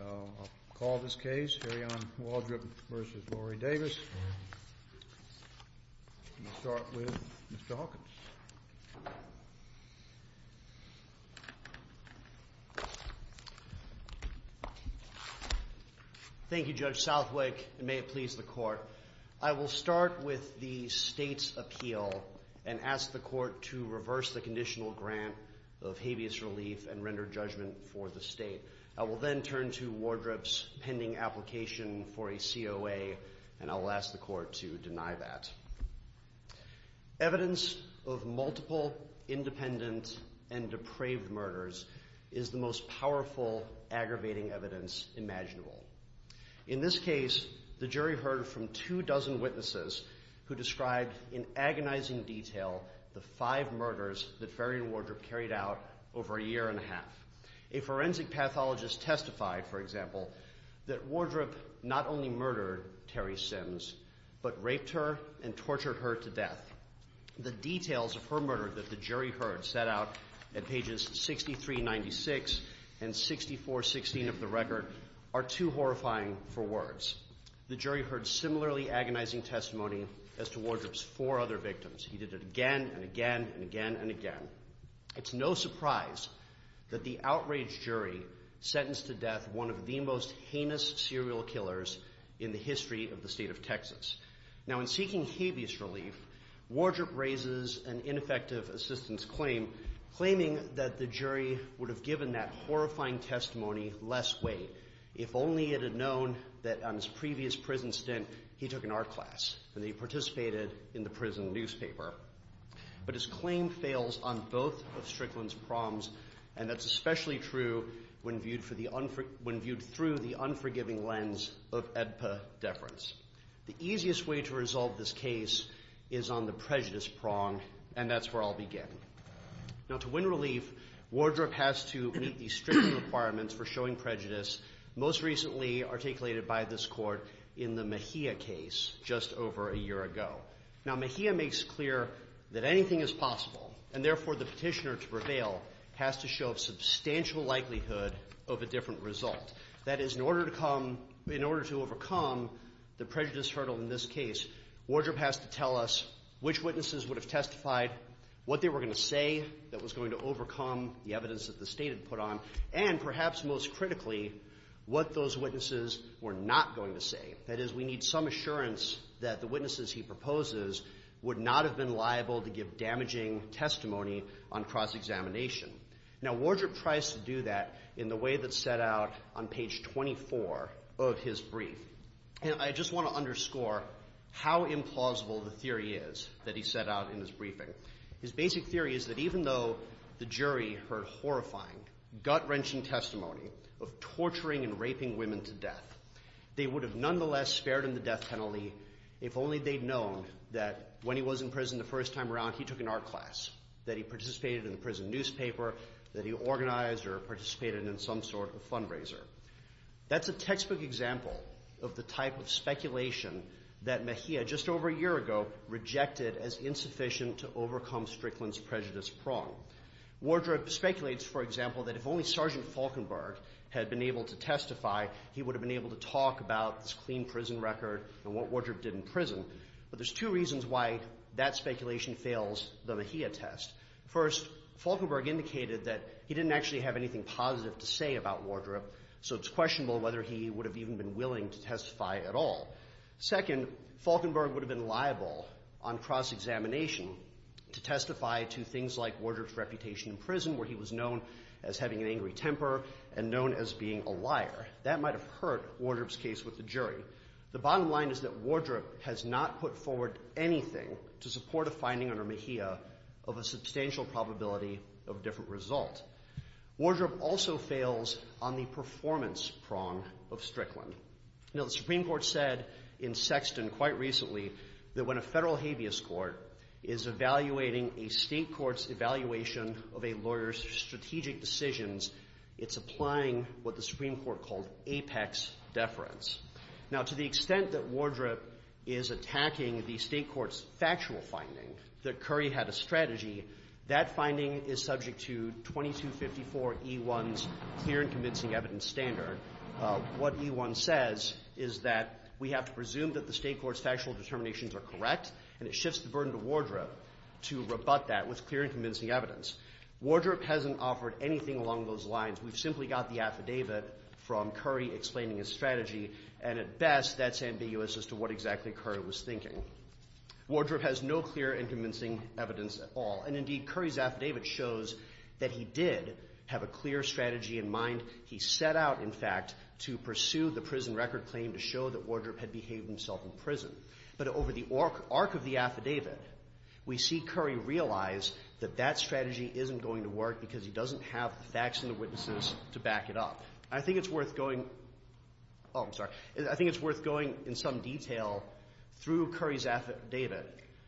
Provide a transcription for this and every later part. I'll call this case, Faryion Wardrip v. Lorie Davis. I'll start with Mr. Hawkins. Thank you, Judge Southwick, and may it please the Court. I will start with the State's appeal and ask the Court to reverse the conditional grant of habeas relief and render judgment for the State. I will then turn to Wardrip's pending application for a COA, and I'll ask the Court to deny that. Evidence of multiple independent and depraved murders is the most powerful aggravating evidence imaginable. In this case, the jury heard from two dozen witnesses who described in agonizing detail the five murders that Faryion Wardrip carried out over a year and a half. A forensic pathologist testified, for example, that Wardrip not only murdered Terry Sims, but raped her and tortured her to death. The details of her murder that the jury heard set out at pages 6396 and 6416 of the record are too horrifying for words. The jury heard similarly agonizing testimony as to Wardrip's four other victims. He did it again and again and again and again. It's no surprise that the outraged jury sentenced to death one of the most heinous serial killers in the history of the State of Texas. Now, in seeking habeas relief, Wardrip raises an ineffective assistance claim, claiming that the jury would have given that horrifying testimony less weight if only it had known that on his previous prison stint he took an art class and that he participated in the prison newspaper. But his claim fails on both of Strickland's prongs, and that's especially true when viewed through the unforgiving lens of EBPA deference. The easiest way to resolve this case is on the prejudice prong, and that's where I'll begin. Now, to win relief, Wardrip has to meet the strict requirements for showing prejudice, most recently articulated by this court in the Mejia case just over a year ago. Now, Mejia makes clear that anything is possible, and therefore the petitioner to prevail has to show a substantial likelihood of a different result. That is, in order to overcome the prejudice hurdle in this case, Wardrip has to tell us which witnesses would have testified, what they were going to say that was going to overcome the evidence that the State had put on, and perhaps most critically, what those witnesses were not going to say. That is, we need some assurance that the witnesses he proposes would not have been liable to give damaging testimony on cross-examination. Now, Wardrip tries to do that in the way that's set out on page 24 of his brief, and I just want to underscore how implausible the theory is that he set out in his briefing. His basic theory is that even though the jury heard horrifying, gut-wrenching testimony of torturing and raping women to death, they would have nonetheless spared him the death penalty if only they'd known that when he was in prison the first time around, he took an art class, that he participated in a prison newspaper, that he organized or participated in some sort of fundraiser. That's a textbook example of the type of speculation that Mejia just over a year ago rejected as insufficient to overcome Strickland's prejudice prong. Wardrip speculates, for example, that if only Sergeant Falkenberg had been able to testify, he would have been able to talk about this clean prison record and what Wardrip did in prison. But there's two reasons why that speculation fails the Mejia test. First, Falkenberg indicated that he didn't actually have anything positive to say about Wardrip, so it's questionable whether he would have even been willing to testify at all. Second, Falkenberg would have been liable on cross-examination to testify to things like Wardrip's reputation in prison, where he was known as having an angry temper and known as being a liar. That might have hurt Wardrip's case with the jury. The bottom line is that Wardrip has not put forward anything to support a finding under Mejia of a substantial probability of different result. Wardrip also fails on the performance prong of Strickland. Now, the Supreme Court said in Sexton quite recently that when a federal habeas court is evaluating a state court's evaluation of a lawyer's strategic decisions, it's applying what the Supreme Court called apex deference. Now, to the extent that Wardrip is attacking the state court's factual finding that Curry had a strategy, that finding is subject to 2254E1's clear and convincing evidence standard. What E1 says is that we have to presume that the state court's factual determinations are correct, and it shifts the burden to Wardrip to rebut that with clear and convincing evidence. Wardrip hasn't offered anything along those lines. We've simply got the affidavit from Curry explaining his strategy, and at best that's ambiguous as to what exactly Curry was thinking. Wardrip has no clear and convincing evidence at all. And indeed, Curry's affidavit shows that he did have a clear strategy in mind. He set out, in fact, to pursue the prison record claim to show that Wardrip had behaved himself in prison. But over the arc of the affidavit, we see Curry realize that that strategy isn't going to work because he doesn't have the facts and the witnesses to back it up. I think it's worth going in some detail through Curry's affidavit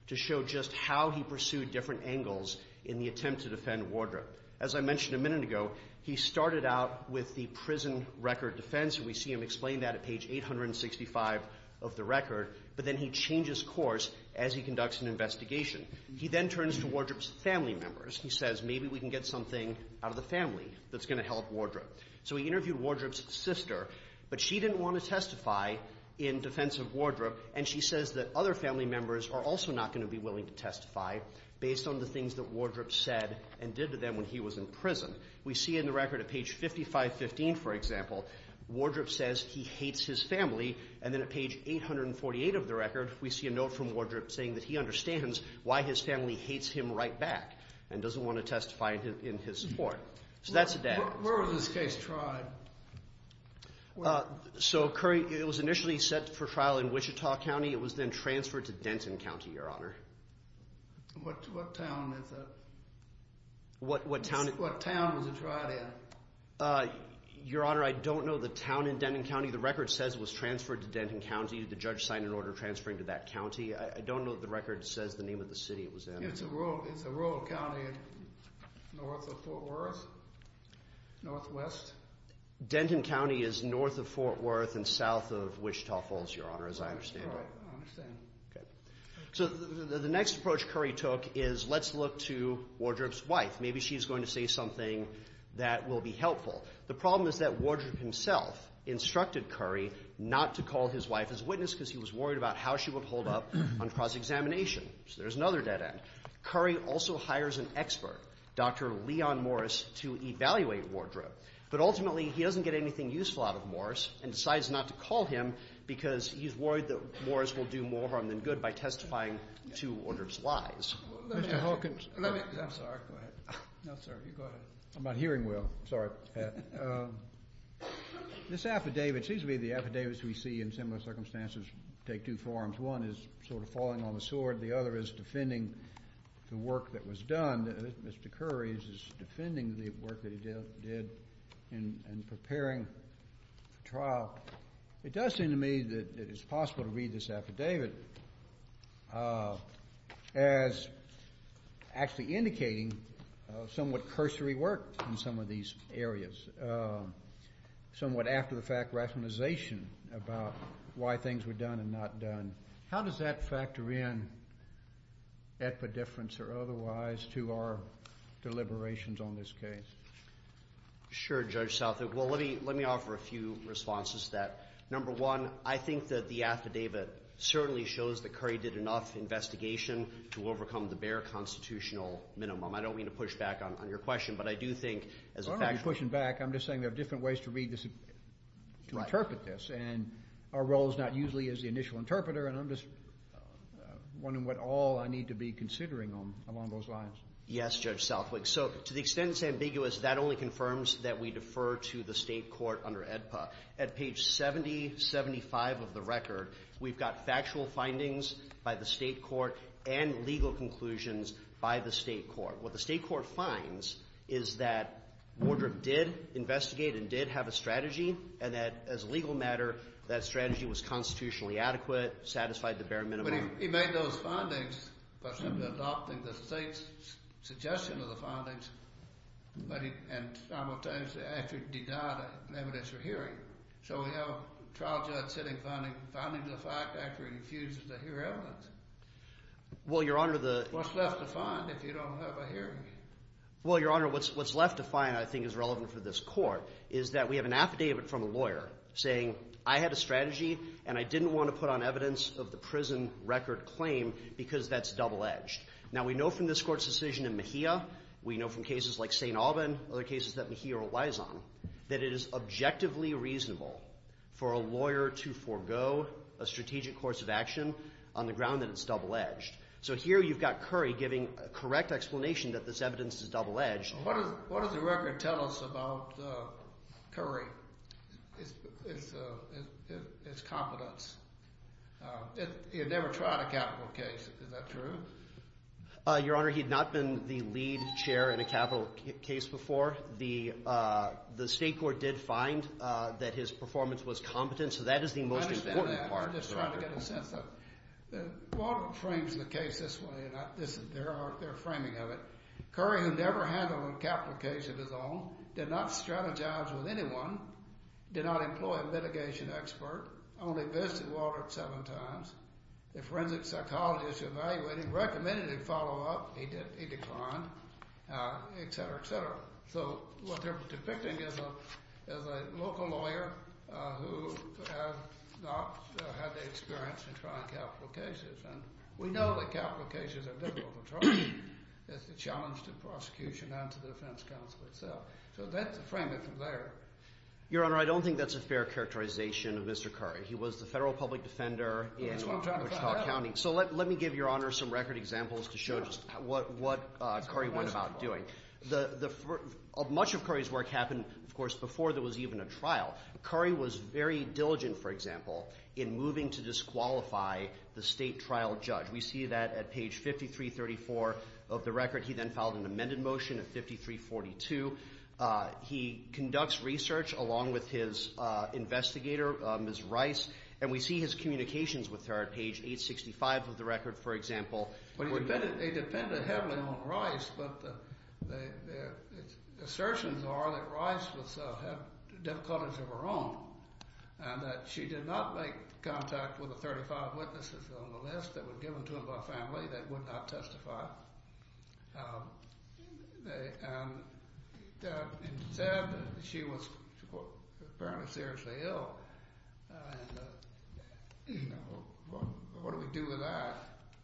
to show just how he pursued different angles in the attempt to defend Wardrip. As I mentioned a minute ago, he started out with the prison record defense, and we see him explain that at page 865 of the record. But then he changes course as he conducts an investigation. He then turns to Wardrip's family members. He says, maybe we can get something out of the family that's going to help Wardrip. So he interviewed Wardrip's sister, but she didn't want to testify in defense of Wardrip. And she says that other family members are also not going to be willing to testify based on the things that Wardrip said and did to them when he was in prison. We see in the record at page 5515, for example, Wardrip says he hates his family. And then at page 848 of the record, we see a note from Wardrip saying that he understands why his family hates him right back and doesn't want to testify in his support. So that's the data. Where was this case tried? So, Curry, it was initially set for trial in Wichita County. It was then transferred to Denton County, Your Honor. What town was it tried in? Your Honor, I don't know the town in Denton County. The record says it was transferred to Denton County. The judge signed an order transferring to that county. I don't know that the record says the name of the city it was in. It's a rural county north of Fort Worth, northwest. Denton County is north of Fort Worth and south of Wichita Falls, Your Honor, as I understand it. All right. I understand. So the next approach Curry took is let's look to Wardrip's wife. Maybe she's going to say something that will be helpful. The problem is that Wardrip himself instructed Curry not to call his wife as witness because he was worried about how she would hold up on cross-examination. So there's another dead end. Curry also hires an expert, Dr. Leon Morris, to evaluate Wardrip. But ultimately, he doesn't get anything useful out of Morris and decides not to call him because he's worried that Morris will do more harm than good by testifying to Wardrip's lies. Mr. Hawkins. Let me. I'm sorry. Go ahead. No, sir. You go ahead. I'm not hearing well. Sorry, Pat. This affidavit seems to be the affidavits we see in similar circumstances take two forms. One is sort of falling on the sword. The other is defending the work that was done. Mr. Curry is defending the work that he did in preparing for trial. It does seem to me that it is possible to read this affidavit as actually indicating somewhat cursory work in some of these areas, somewhat after the fact rationalization about why things were done and not done. How does that factor in at the difference or otherwise to our deliberations on this case? Sure, Judge Southup. Well, let me offer a few responses to that. Number one, I think that the affidavit certainly shows that Curry did enough investigation to overcome the bare constitutional minimum. I don't mean to push back on your question, but I do think as a factuality I'm not pushing back. I'm just saying there are different ways to read this, to interpret this, and our role is not usually as the initial interpreter, and I'm just wondering what all I need to be considering along those lines. Yes, Judge Southup. So to the extent it's ambiguous, that only confirms that we defer to the State Court under AEDPA. At page 7075 of the record, we've got factual findings by the State Court and legal conclusions by the State Court. What the State Court finds is that Wardrobe did investigate and did have a strategy and that as a legal matter that strategy was constitutionally adequate, satisfied the bare minimum. But he made those findings by simply adopting the State's suggestion of the findings and simultaneously actually denied evidence or hearing. So we have a trial judge sitting finding the fact after he refuses to hear evidence. Well, Your Honor, the- What's left to find if you don't have a hearing? Well, Your Honor, what's left to find I think is relevant for this court is that we have an affidavit from a lawyer saying I had a strategy and I didn't want to put on evidence of the prison record claim because that's double-edged. Now we know from this court's decision in Mejia, we know from cases like St. Alban, other cases that Mejia relies on, that it is objectively reasonable for a lawyer to forego a strategic course of action on the ground that it's double-edged. So here you've got Curry giving a correct explanation that this evidence is double-edged. What does the record tell us about Curry? It's competence. He had never tried a capital case. Is that true? Your Honor, he had not been the lead chair in a capital case before. The State court did find that his performance was competent, so that is the most important part. I understand that. I'm just trying to get a sense of it. Baldwin frames the case this way, and there are framing of it. Curry, who never handled a capital case of his own, did not strategize with anyone, did not employ a litigation expert, only visited Walter seven times, the forensic psychologist evaluated him, recommended he follow up. He declined, et cetera, et cetera. So what they're depicting is a local lawyer who has not had the experience in trying capital cases, and we know that capital cases are difficult to try. It's a challenge to prosecution and to the defense counsel itself. So that's the framing from there. Your Honor, I don't think that's a fair characterization of Mr. Curry. He was the federal public defender in Wichita County. So let me give Your Honor some record examples to show just what Curry went about doing. Much of Curry's work happened, of course, before there was even a trial. Curry was very diligent, for example, in moving to disqualify the state trial judge. We see that at page 5334 of the record. He then filed an amended motion at 5342. He conducts research along with his investigator, Ms. Rice, and we see his communications with her at page 865 of the record, for example. They depended heavily on Rice, but the assertions are that Rice had difficulties of her own and that she did not make contact with the 35 witnesses on the list that were given to him by family that would not testify. It's said that she was apparently seriously ill. What do we do with that?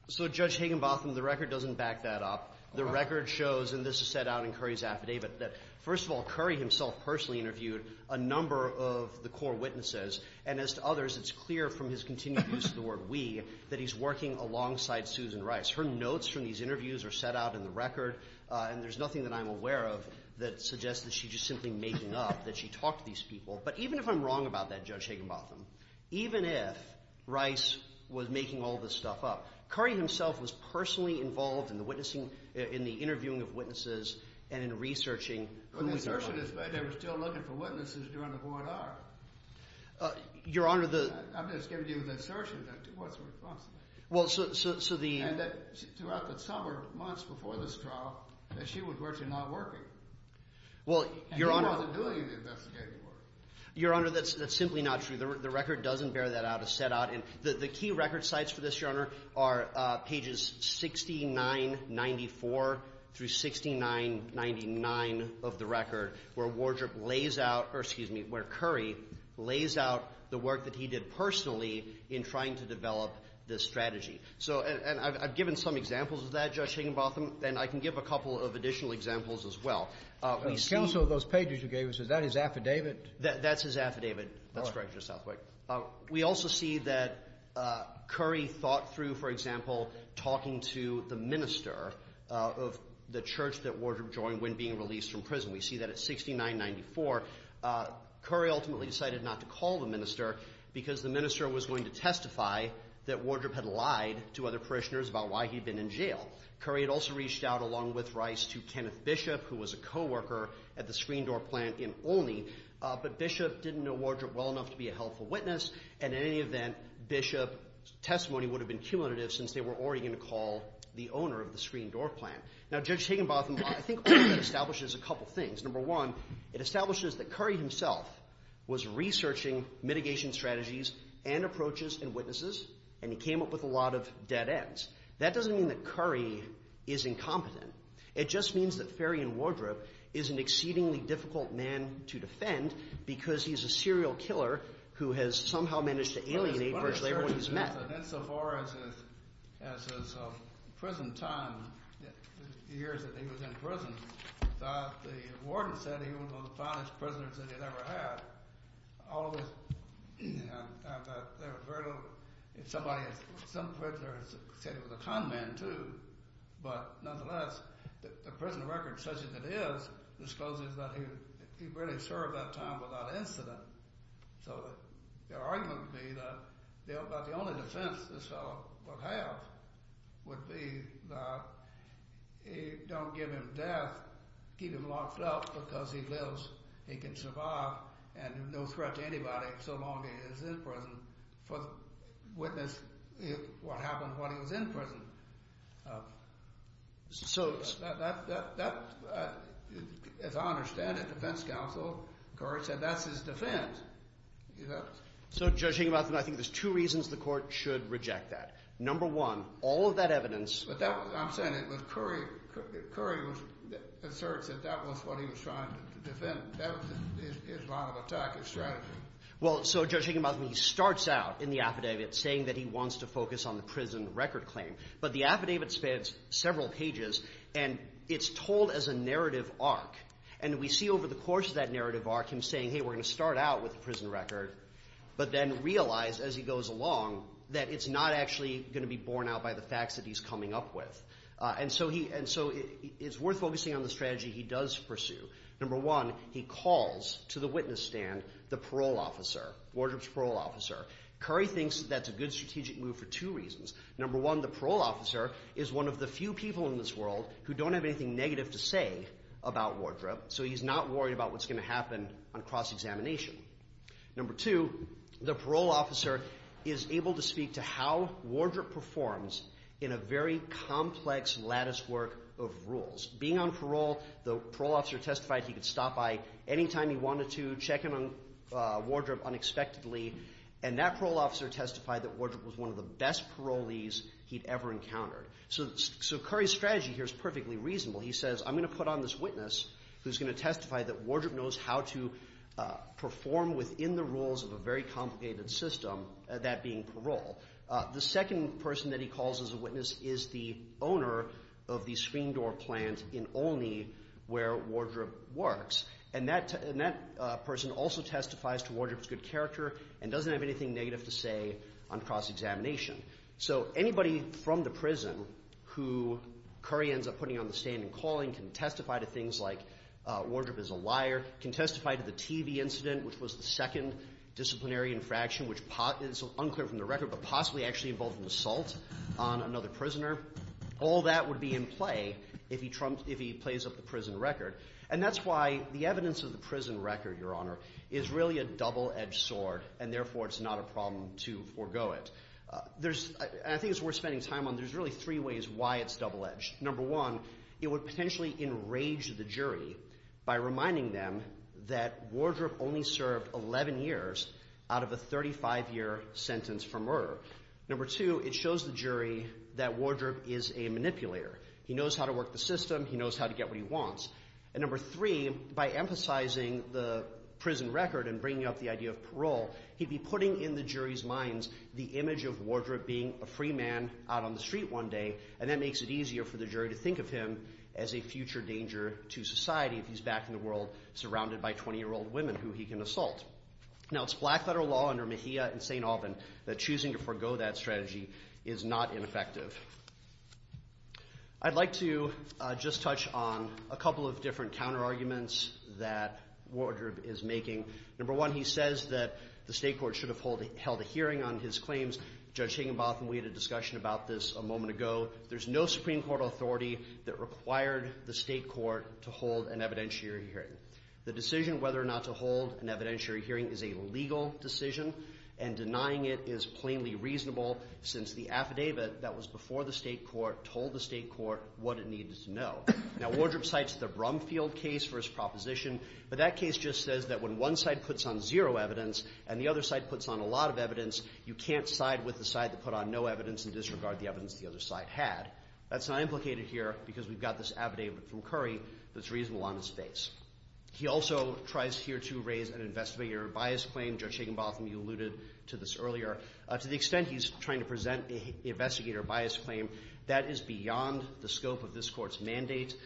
So, Judge Higginbotham, the record doesn't back that up. The record shows, and this is set out in Curry's affidavit, that first of all, Curry himself personally interviewed a number of the core witnesses, and as to the assertion that he's working alongside Susan Rice. Her notes from these interviews are set out in the record, and there's nothing that I'm aware of that suggests that she's just simply making up that she talked to these people. But even if I'm wrong about that, Judge Higginbotham, even if Rice was making all this stuff up, Curry himself was personally involved in the witnessing, in the interviewing of witnesses, and in researching. But the assertion is that they were still looking for witnesses during the court hour. Your Honor, the... I'm just giving you the assertion. What's the response to that? Well, so the... And that throughout the summer, months before this trial, that she was virtually not working. Well, Your Honor... And he wasn't doing any of the investigating work. Your Honor, that's simply not true. The record doesn't bear that out. It's set out in... The key record sites for this, Your Honor, are pages 6994 through 6999 of the record where Wardrop lays out, or excuse me, where Curry lays out the work that he did personally in trying to develop this strategy. So, and I've given some examples of that, Judge Higginbotham, and I can give a couple of additional examples as well. We see... Counsel, those pages you gave us, is that his affidavit? That's his affidavit. That's correct, Your Honor. All right. We also see that Curry thought through, for example, talking to the minister of the church that Wardrop joined when being released from prison. We see that at 6994, Curry ultimately decided not to call the minister because the minister was going to testify that Wardrop had lied to other parishioners about why he'd been in jail. Curry had also reached out, along with Rice, to Kenneth Bishop, who was a coworker at the Screen Door plant in Olney. But Bishop didn't know Wardrop well enough to be a helpful witness, and in any event, Bishop's testimony would have been cumulative since they were already going to call the owner of the Screen Door plant. Now, Judge Higginbotham, I think that establishes a couple of things. Number one, it establishes that Curry himself was researching mitigation strategies and approaches and witnesses, and he came up with a lot of dead ends. That doesn't mean that Curry is incompetent. It just means that Farian Wardrop is an exceedingly difficult man to defend because he's a serial killer who has somehow managed to alienate virtually everyone he's met. And insofar as his prison time, the years that he was in prison, the warden said he was one of the finest prisoners that he'd ever had. All of this, there was very little. Somebody said he was a con man, too. But nonetheless, the prison record, such as it is, discloses that he really served that time without incident. So the argument would be that the only defense this fellow would have would be that don't give him death, keep him locked up because he lives, he can survive, and no threat to anybody so long as he's in prison for witnessing what happened when he was in prison. So as I understand it, the defense counsel, Curry, said that's his defense. So, Judge Higginbotham, I think there's two reasons the Court should reject that. Number one, all of that evidence. But that was – I'm saying it was Curry. Curry asserts that that was what he was trying to defend. That was his line of attack, his strategy. Well, so, Judge Higginbotham, he starts out in the affidavit saying that he wants to focus on the prison record claim. But the affidavit spans several pages, and it's told as a narrative arc. And we see over the course of that narrative arc him saying, hey, we're going to start out with the prison record, but then realize as he goes along that it's not actually going to be borne out by the facts that he's coming up with. And so it's worth focusing on the strategy he does pursue. Number one, he calls to the witness stand the parole officer, Wardrobe's parole officer. Curry thinks that's a good strategic move for two reasons. Number one, the parole officer is one of the few people in this world who don't have anything negative to say about Wardrobe, so he's not worried about what's going to happen on cross-examination. Number two, the parole officer is able to speak to how Wardrobe performs in a very complex latticework of rules. Being on parole, the parole officer testified he could stop by any time he wanted to, check in on Wardrobe unexpectedly, and that parole officer testified that Wardrobe was one of the best parolees he'd ever encountered. So Curry's strategy here is perfectly reasonable. He says, I'm going to put on this witness who's going to testify that Wardrobe knows how to perform within the rules of a very complicated system, that being parole. The second person that he calls as a witness is the owner of the screen door plant in Olney where Wardrobe works. And that person also testifies to Wardrobe's good character and doesn't have anything negative to say on cross-examination. So anybody from the prison who Curry ends up putting on the stand and calling can testify to things like Wardrobe is a liar, can testify to the TV incident, which was the second disciplinary infraction, which is unclear from the record, but possibly actually involved an assault on another prisoner. All that would be in play if he plays up the prison record. And that's why the evidence of the prison record, Your Honor, is really a double-edged sword, and therefore it's not a problem to forego it. I think it's worth spending time on. There's really three ways why it's double-edged. Number one, it would potentially enrage the jury by reminding them that Wardrobe only served 11 years out of a 35-year sentence for murder. Number two, it shows the jury that Wardrobe is a manipulator. He knows how to work the system. He knows how to get what he wants. And number three, by emphasizing the prison record and bringing up the idea of parole, he'd be putting in the jury's minds the image of Wardrobe being a free man out on the street one day, and that makes it easier for the jury to think of him as a future danger to society if he's back in the world surrounded by 20-year-old women who he can assault. Now, it's black federal law under Mejia and St. Alban that choosing to forego that strategy is not ineffective. I'd like to just touch on a couple of different counterarguments that Wardrobe is making. Number one, he says that the state court should have held a hearing on his claims. Judge Higginbotham, we had a discussion about this a moment ago. There's no Supreme Court authority that required the state court to hold an evidentiary hearing. The decision whether or not to hold an evidentiary hearing is a legal decision, and denying it is plainly reasonable since the affidavit that was before the state court told the state court what it needed to know. Now, Wardrobe cites the Brumfield case for his proposition, but that case just says that when one side puts on zero evidence and the other side puts on a lot of evidence, you can't side with the side that put on no evidence and disregard the evidence the other side had. That's not implicated here because we've got this affidavit from Curry that's reasonable on his face. He also tries here to raise an investigator bias claim. Judge Higginbotham, you alluded to this earlier. To the extent he's trying to present the investigator bias claim, that is beyond the scope of this Court's mandate.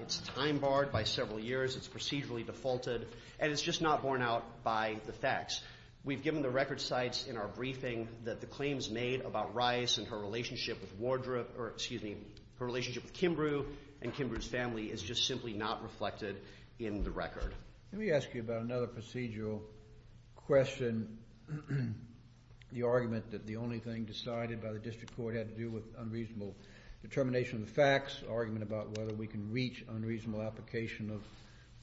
It's time-barred by several years. It's procedurally defaulted, and it's just not borne out by the facts. We've given the record cites in our briefing that the claims made about Rice and her relationship with Wardrobe or, excuse me, her relationship with Kimbrough and Kimbrough's family is just simply not reflected in the record. Let me ask you about another procedural question, the argument that the only thing decided by the district court had to do with unreasonable determination of the facts, argument about whether we can reach unreasonable application of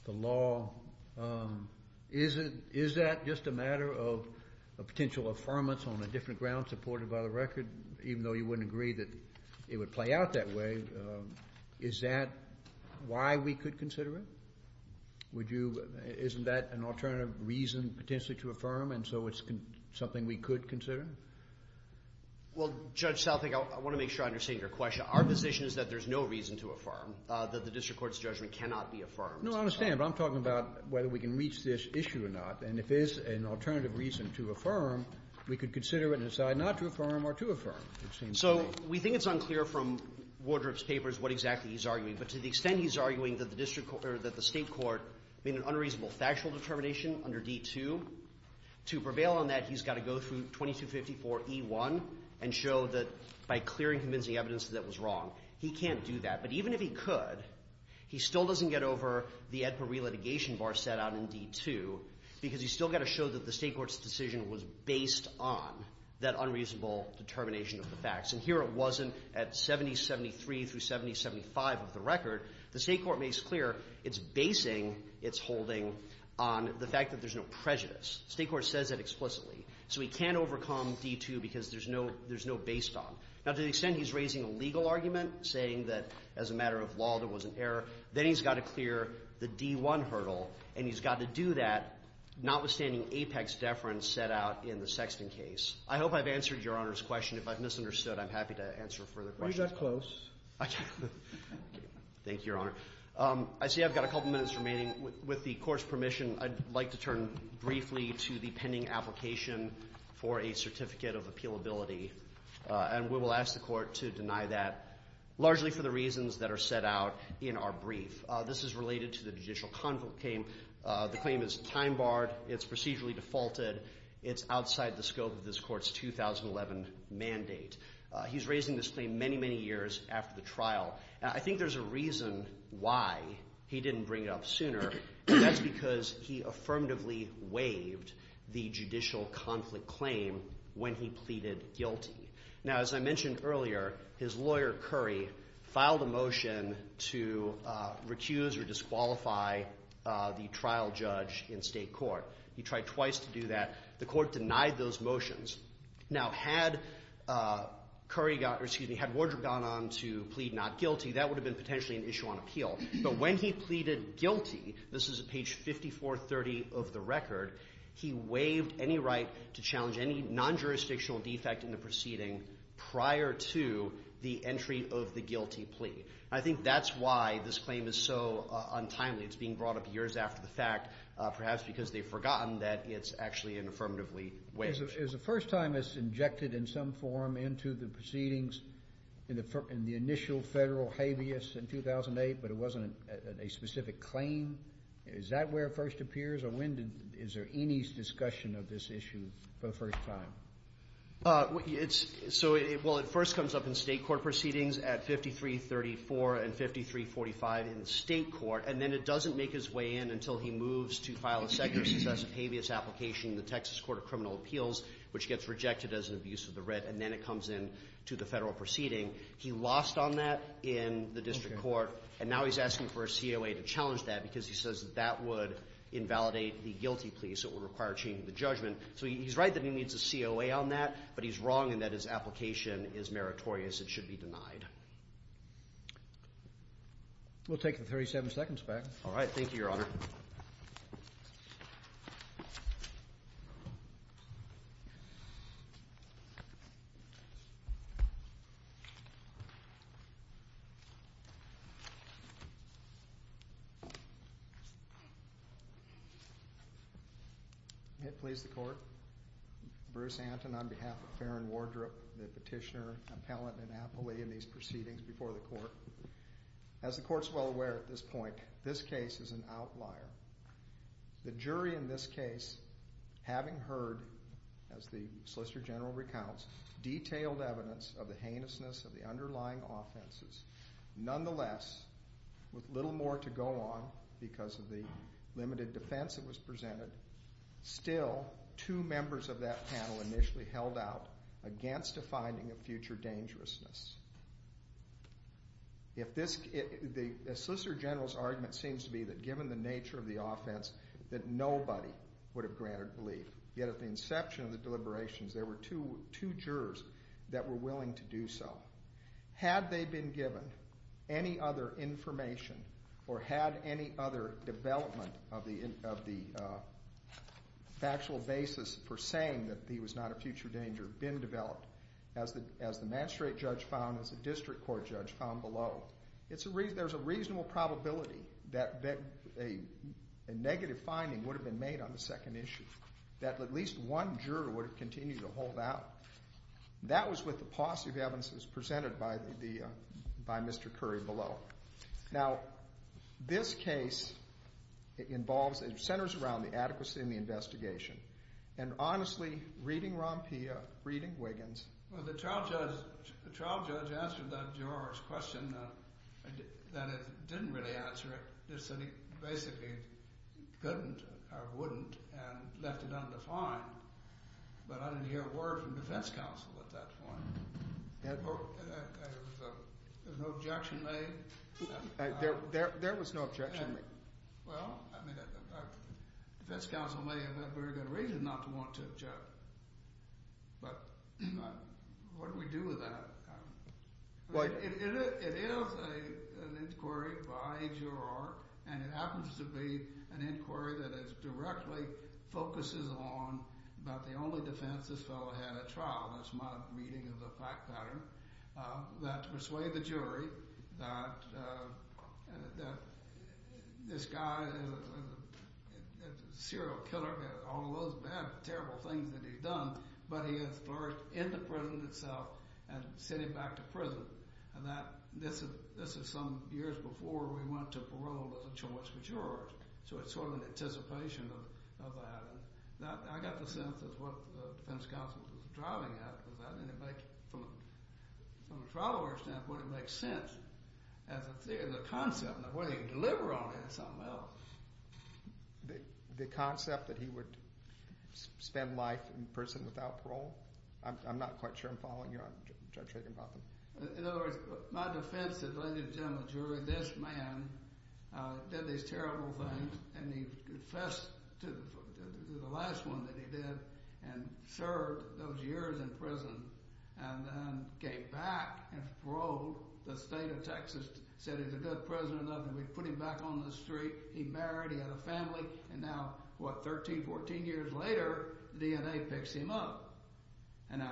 the law. Is that just a matter of a potential affirmance on a different ground supported by the record? Even though you wouldn't agree that it would play out that way, is that why we could consider it? Would you — isn't that an alternative reason potentially to affirm, and so it's something we could consider? Well, Judge Southwick, I want to make sure I understand your question. Our position is that there's no reason to affirm, that the district court's judgment cannot be affirmed. No, I understand, but I'm talking about whether we can reach this issue or not. And if there's an alternative reason to affirm, we could consider it and decide not to affirm or to affirm, it seems to me. So we think it's unclear from Wardrobe's papers what exactly he's arguing, but to the extent he's arguing that the district — or that the State court made an unreasonable factual determination under D-2, to prevail on that, he's got to go through 2254e-1 and show that by clearing convincing evidence that that was wrong. He can't do that. But even if he could, he still doesn't get over the AEDPA re-litigation bar set out in D-2, because he's still got to show that the State court's decision was based on that unreasonable determination of the facts. And here it wasn't at 7073 through 7075 of the record. The State court makes clear it's basing its holding on the fact that there's no prejudice. The State court says that explicitly. So he can't overcome D-2 because there's no — there's no based on. Now, to the extent he's raising a legal argument, saying that as a matter of law there was an error, then he's got to clear the D-1 hurdle, and he's got to do that, notwithstanding Apex deference set out in the Sexton case. I hope I've answered Your Honor's question. If I've misunderstood, I'm happy to answer further questions. You got close. Thank you, Your Honor. I see I've got a couple minutes remaining. With the Court's permission, I'd like to turn briefly to the pending application for a certificate of appealability, and we will ask the Court to deny that, largely for the reasons that are set out in our brief. This is related to the judicial convocate. The claim is time-barred. It's procedurally defaulted. It's outside the scope of this Court's 2011 mandate. He's raising this claim many, many years after the trial. I think there's a reason why he didn't bring it up sooner. That's because he affirmatively waived the judicial conflict claim when he pleaded guilty. Now, as I mentioned earlier, his lawyer, Curry, filed a motion to recuse or disqualify the trial judge in state court. He tried twice to do that. The Court denied those motions. Now, had Curry got or, excuse me, had Wardrop gone on to plead not guilty, that would have been potentially an issue on appeal. But when he pleaded guilty, this is at page 5430 of the record, he waived any right to challenge any non-jurisdictional defect in the proceeding prior to the entry of the guilty plea. I think that's why this claim is so untimely. It's being brought up years after the fact, perhaps because they've forgotten that it's actually an affirmatively waived. Is the first time it's injected in some form into the proceedings in the initial federal habeas in 2008, but it wasn't a specific claim? Is that where it first appears, or when is there any discussion of this issue for the first time? Well, it first comes up in state court proceedings at 5334 and 5345 in state court, and then it doesn't make its way in until he moves to file a second or successive habeas application in the Texas Court of Criminal Appeals, which gets rejected as an abuse of the writ, and then it comes in to the federal proceeding. He lost on that in the district court, and now he's asking for a COA to challenge that because he says that that would invalidate the guilty plea, so it would require changing the judgment. So he's right that he needs a COA on that, It should be denied. We'll take the 37 seconds back. All right. Thank you, Your Honor. May it please the Court, Bruce Anton on behalf of Farron Wardrobe, the petitioner, appellant and appellee in these proceedings before the Court. As the Court's well aware at this point, this case is an outlier. The jury in this case, having heard, as the Solicitor General recounts, detailed evidence of the heinousness of the underlying offenses. Nonetheless, with little more to go on because of the limited defense that was presented, still two members of that panel initially held out against a finding of future dangerousness. The Solicitor General's argument seems to be that given the nature of the offense, that nobody would have granted relief. Yet at the inception of the deliberations, there were two jurors that were willing to do so. Had they been given any other information or had any other development of the factual basis for saying that he was not a future danger been developed, as the magistrate judge found, as the district court judge found below, there's a reasonable probability that a negative finding would have been made on the second issue, that at least one juror would have continued to hold out. That was with the positive evidences presented by Mr. Curry below. Now, this case involves and centers around the adequacy in the investigation. And honestly, reading Rompea, reading Wiggins. Well, the trial judge answered that juror's question, that it didn't really answer it, just that he basically couldn't or wouldn't and left it undefined. But I didn't hear a word from defense counsel at that point. There was no objection made? There was no objection made. Well, I mean, defense counsel may have had very good reason not to want to judge. But what do we do with that? It is an inquiry by a juror, and it happens to be an inquiry that directly focuses on about the only defense this fellow had at trial, that's my reading of the fact pattern, that persuaded the jury that this guy is a serial killer, all of those bad, terrible things that he's done, but he has flourished in the prison itself and sent him back to prison. And this is some years before we went to parole as a choice for jurors. So it's sort of an anticipation of that. And I got the sense of what the defense counsel was driving at, because that didn't make, from a trial lawyer's standpoint, it makes sense as a concept. Now, whether he can deliver on it is something else. The concept that he would spend life in prison without parole, I'm not quite sure I'm following you on, Judge Raganbotham. In other words, my defense is, ladies and gentlemen of the jury, this man did these terrible things, and he confessed to the last one that he did and served those years in prison and then came back and paroled the state of Texas, said he's a good prisoner of nothing. We put him back on the street. He married. He had a family. And now, what, 13, 14 years later, DNA picks him up. And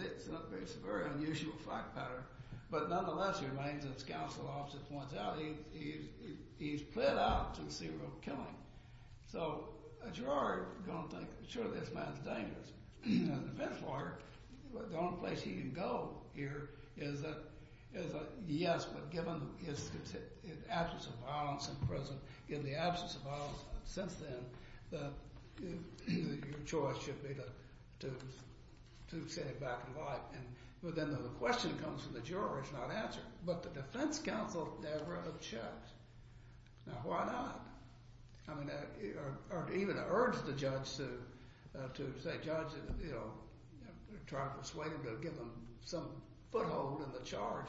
it's a very unusual fact pattern. But nonetheless, it remains, as counsel officer points out, he's pled out to serial killing. So a juror is going to think, sure, this man's dangerous. As a defense lawyer, the only place he can go here is, yes, but given his absence of violence in prison, in the absence of violence since then, your choice should be to send him back to life. But then the question that comes from the juror is not answered. But the defense counsel never unchecks. Now, why not? I mean, or even urge the judge to say, judge, you know, try to persuade him to give him some foothold in the charge.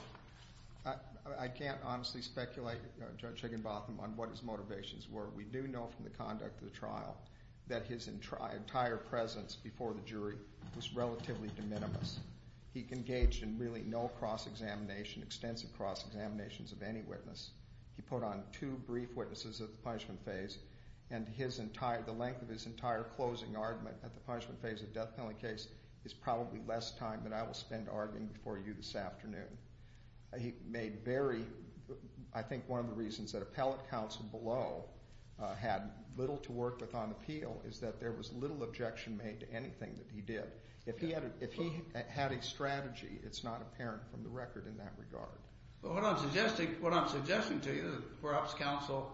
I can't honestly speculate, Judge Higginbotham, on what his motivations were. We do know from the conduct of the trial that his entire presence before the jury was relatively de minimis. He engaged in really no cross-examination, extensive cross-examinations of any witness. He put on two brief witnesses at the punishment phase, and the length of his entire closing argument at the punishment phase of the death penalty case is probably less time than I will spend arguing before you this afternoon. He made very, I think, one of the reasons that appellate counsel below had little to work with on appeal is that there was little objection made to anything that he did. If he had a strategy, it's not apparent from the record in that regard. But what I'm suggesting to you is perhaps counsel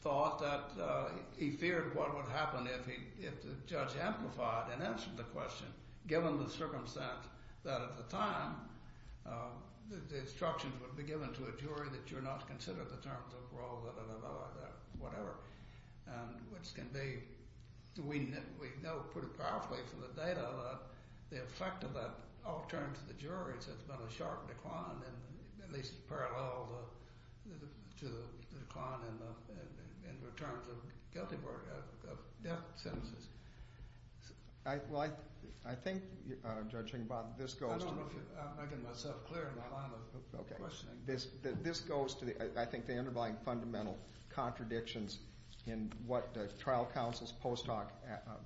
thought that he feared what would happen if the judge amplified and answered the question, given the circumstance that at the time the instructions would be given to a jury that you're not to consider the terms of parole, blah, blah, blah, whatever, which can be, we know pretty powerfully from the data, that the effect of that all turned to the jury, so it's been a sharp decline, at least parallel to the decline in the terms of death sentences. Well, I think, Judging Bob, this goes to the... I don't know if I'm making myself clear in the line of questioning. This goes to, I think, the underlying fundamental contradictions in what trial counsel's post hoc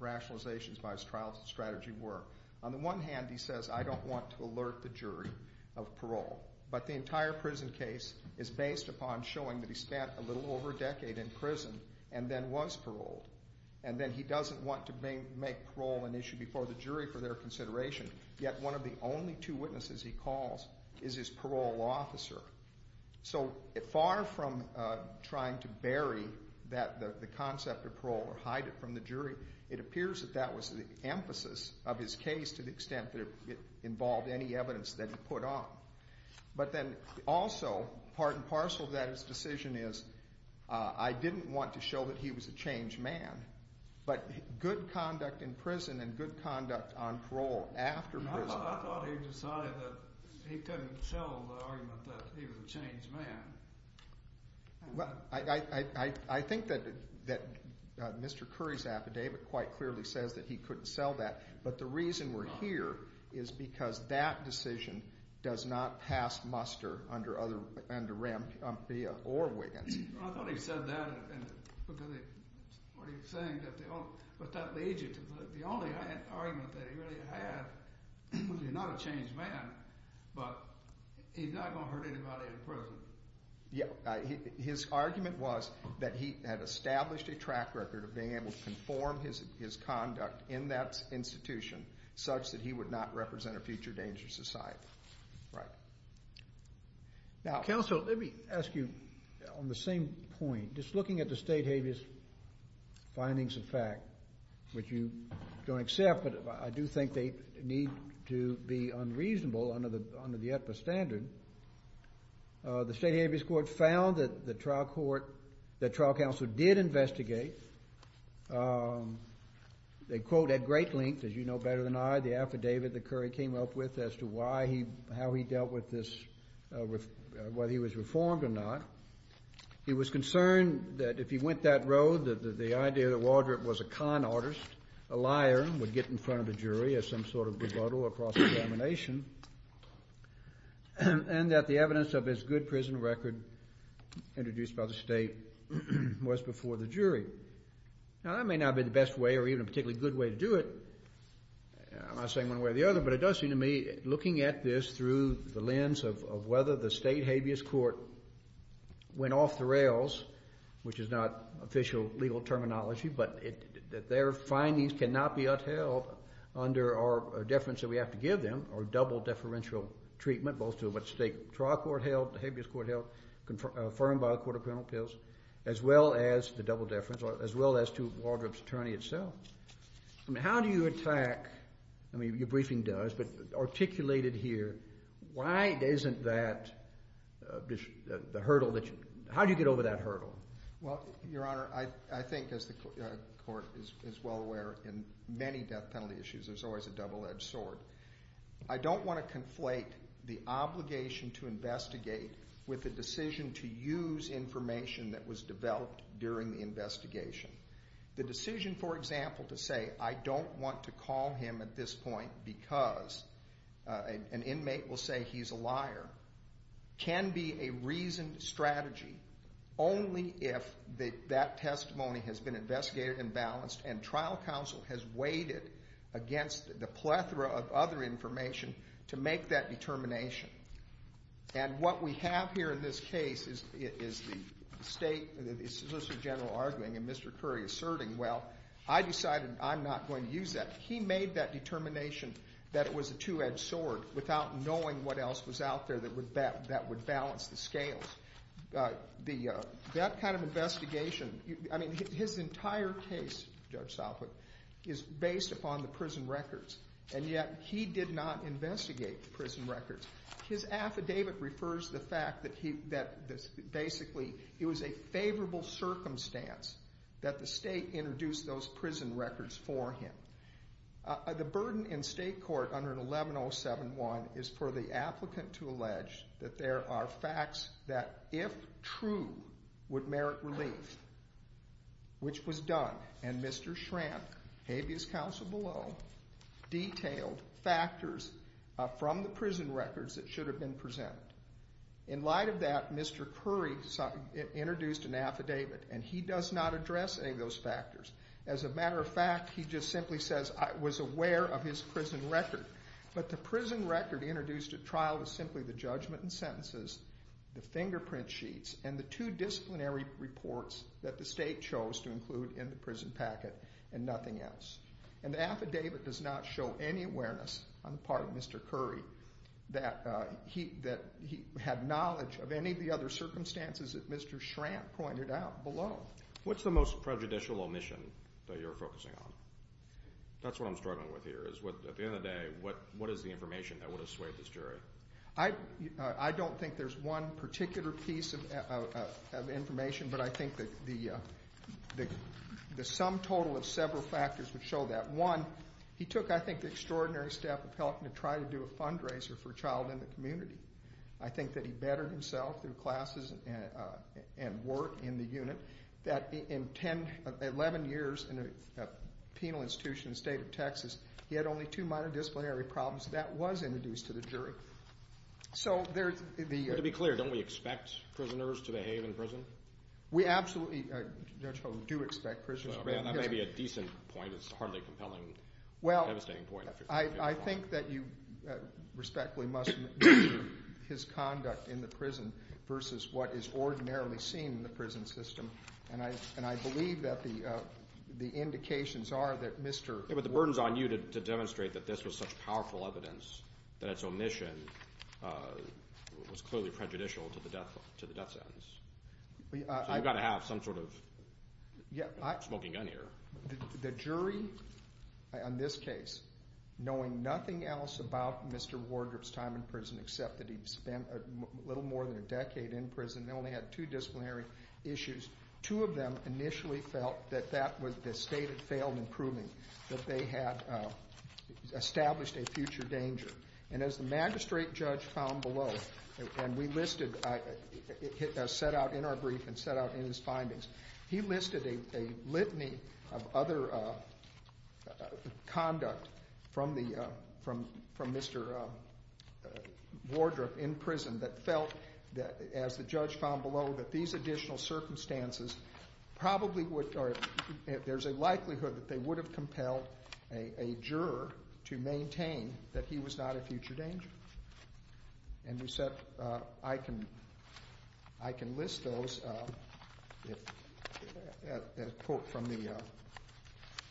rationalizations by his trial strategy were. On the one hand, he says, I don't want to alert the jury of parole. But the entire prison case is based upon showing that he spent a little over a decade in prison and then was paroled, and then he doesn't want to make parole an issue before the jury for their consideration. Yet one of the only two witnesses he calls is his parole officer. So far from trying to bury the concept of parole or hide it from the jury, it appears that that was the emphasis of his case to the extent that it involved any evidence that he put on. But then also, part and parcel of that, his decision is, I didn't want to show that he was a changed man, but good conduct in prison and good conduct on parole after prison... He was a changed man. I think that Mr. Curry's affidavit quite clearly says that he couldn't sell that. But the reason we're here is because that decision does not pass muster under RAMPIA or Wiggins. I thought he said that because what he was saying, but that leads you to the only argument that he really had, which is he's not a changed man, but he's not going to hurt anybody in prison. Yeah. His argument was that he had established a track record of being able to conform his conduct in that institution such that he would not represent a future dangerous society. Right. Now, counsel, let me ask you on the same point. Just looking at the state habeas findings of fact, which you don't accept, but I do think they need to be unreasonable under the EPA standard, the state habeas court found that the trial court, that trial counsel did investigate, they quote at great length, as you know better than I, the affidavit that Curry came up with as to how he dealt with this, whether he was reformed or not. He was concerned that if he went that road, that the idea that Waldrop was a con artist, a liar, would get in front of the jury as some sort of rebuttal or cross-examination, and that the evidence of his good prison record introduced by the state was before the jury. Now, that may not be the best way or even a particularly good way to do it. I'm not saying one way or the other, but it does seem to me, looking at this through the lens of whether the state habeas court went off the rails, which is not official legal terminology, but their findings cannot be upheld under our deference that we have to give them, or double deferential treatment, both to what the state trial court held, the habeas court held, confirmed by the court of criminal appeals, as well as the double deference, as well as to Waldrop's attorney itself. I mean, how do you attack, I mean, your briefing does, but articulated here, why isn't that the hurdle that you, how do you get over that hurdle? Well, Your Honor, I think as the court is well aware in many death penalty issues, there's always a double-edged sword. I don't want to conflate the obligation to investigate with the decision to use information that was developed during the investigation. The decision, for example, to say I don't want to call him at this point because an inmate will say he's a liar can be a reasoned strategy only if that testimony has been investigated and balanced and trial counsel has weighed it against the plethora of other information to make that determination. And what we have here in this case is the state, the Solicitor General arguing and Mr. Curry asserting, well, I decided I'm not going to use that. He made that determination that it was a two-edged sword without knowing what else was out there that would balance the scales. That kind of investigation, I mean, his entire case, Judge Salford, is based upon the prison records, and yet he did not investigate the prison records. His affidavit refers to the fact that basically it was a favorable circumstance that the state introduced those prison records for him. The burden in state court under 11071 is for the applicant to allege that there are facts that, if true, would merit relief, which was done, and Mr. Schrant, habeas counsel below, detailed factors from the prison records that should have been presented. In light of that, Mr. Curry introduced an affidavit, and he does not address any of those factors. As a matter of fact, he just simply says, I was aware of his prison record. But the prison record introduced at trial was simply the judgment and sentences, the fingerprint sheets, and the two disciplinary reports that the state chose to include in the prison packet and nothing else. And the affidavit does not show any awareness on the part of Mr. Curry that he had knowledge of any of the other circumstances that Mr. Schrant pointed out below. What's the most prejudicial omission that you're focusing on? That's what I'm struggling with here, is at the end of the day, what is the information that would have swayed this jury? I don't think there's one particular piece of information, but I think the sum total of several factors would show that. One, he took, I think, the extraordinary step of helping to try to do a fundraiser for a child in the community. I think that he bettered himself through classes and work in the unit, that in 11 years in a penal institution in the state of Texas, he had only two minor disciplinary problems. That was introduced to the jury. To be clear, don't we expect prisoners to behave in prison? We absolutely, Judge Hogan, do expect prisoners to behave in prison. That may be a decent point. It's hardly a compelling, devastating point. I think that you respectfully must measure his conduct in the prison versus what is ordinarily seen in the prison system. And I believe that the indications are that Mr. The burden is on you to demonstrate that this was such powerful evidence, that its omission was clearly prejudicial to the death sentence. So you've got to have some sort of smoking gun here. The jury on this case, knowing nothing else about Mr. Wardrop's time in prison except that he spent a little more than a decade in prison and only had two disciplinary issues, two of them initially felt that that was the state had failed in proving that they had established a future danger. And as the magistrate judge found below, and we listed, set out in our brief and set out in his findings, he listed a litany of other conduct from Mr. Wardrop in prison that felt that, as the judge found below, that these additional circumstances probably would or there's a likelihood that they would have compelled a juror to maintain that he was not a future danger. And we said, I can list those, a quote from the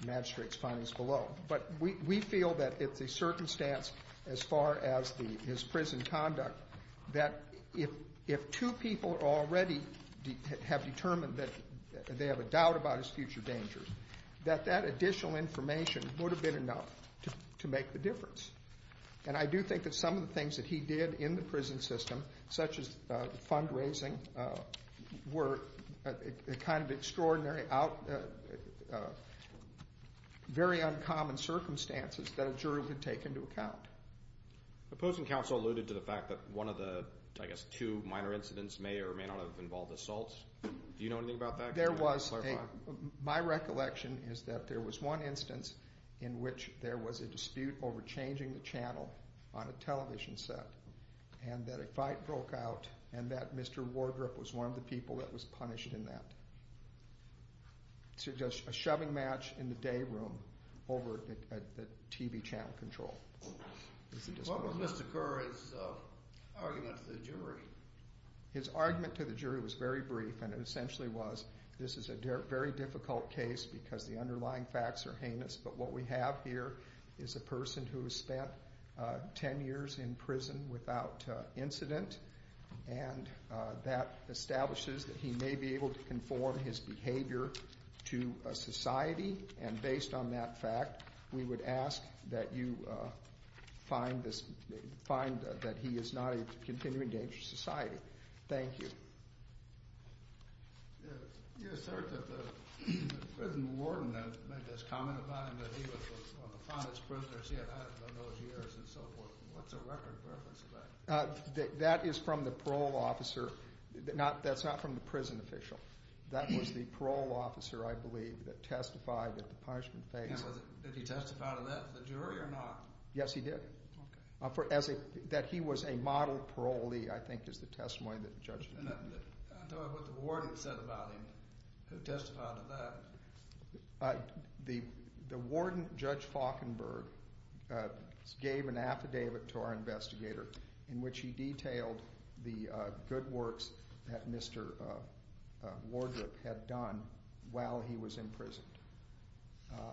magistrate's findings below. But we feel that it's a circumstance as far as his prison conduct that if two people already have determined that they have a doubt about his future dangers, that that additional information would have been enough to make the difference. And I do think that some of the things that he did in the prison system, such as fundraising, were kind of extraordinary, very uncommon circumstances that a juror could take into account. The opposing counsel alluded to the fact that one of the, I guess, two minor incidents may or may not have involved assaults. Do you know anything about that? There was a, my recollection is that there was one instance in which there was a dispute over changing the channel on a television set and that a fight broke out and that Mr. Wardrop was one of the people that was punished in that. So just a shoving match in the day room over the TV channel control. What was Mr. Kerr's argument to the jury? His argument to the jury was very brief, and it essentially was, this is a very difficult case because the underlying facts are heinous, but what we have here is a person who has spent ten years in prison without incident, and that establishes that he may be able to conform his behavior to a society, and based on that fact, we would ask that you find that he is not a continuing danger to society. Thank you. You assert that the prison warden made this comment about him, that he was one of the fondest prisoners he had had in those years and so forth. What's the record of reference to that? That is from the parole officer. That's not from the prison official. That was the parole officer, I believe, that testified at the punishment phase. Did he testify to that with the jury or not? Yes, he did. That he was a model parolee, I think, is the testimony that the judge made. I don't know what the warden said about him, who testified to that. The warden, Judge Faulkenberg, gave an affidavit to our investigator in which he detailed the good works that Mr. Wardrip had done while he was in prison.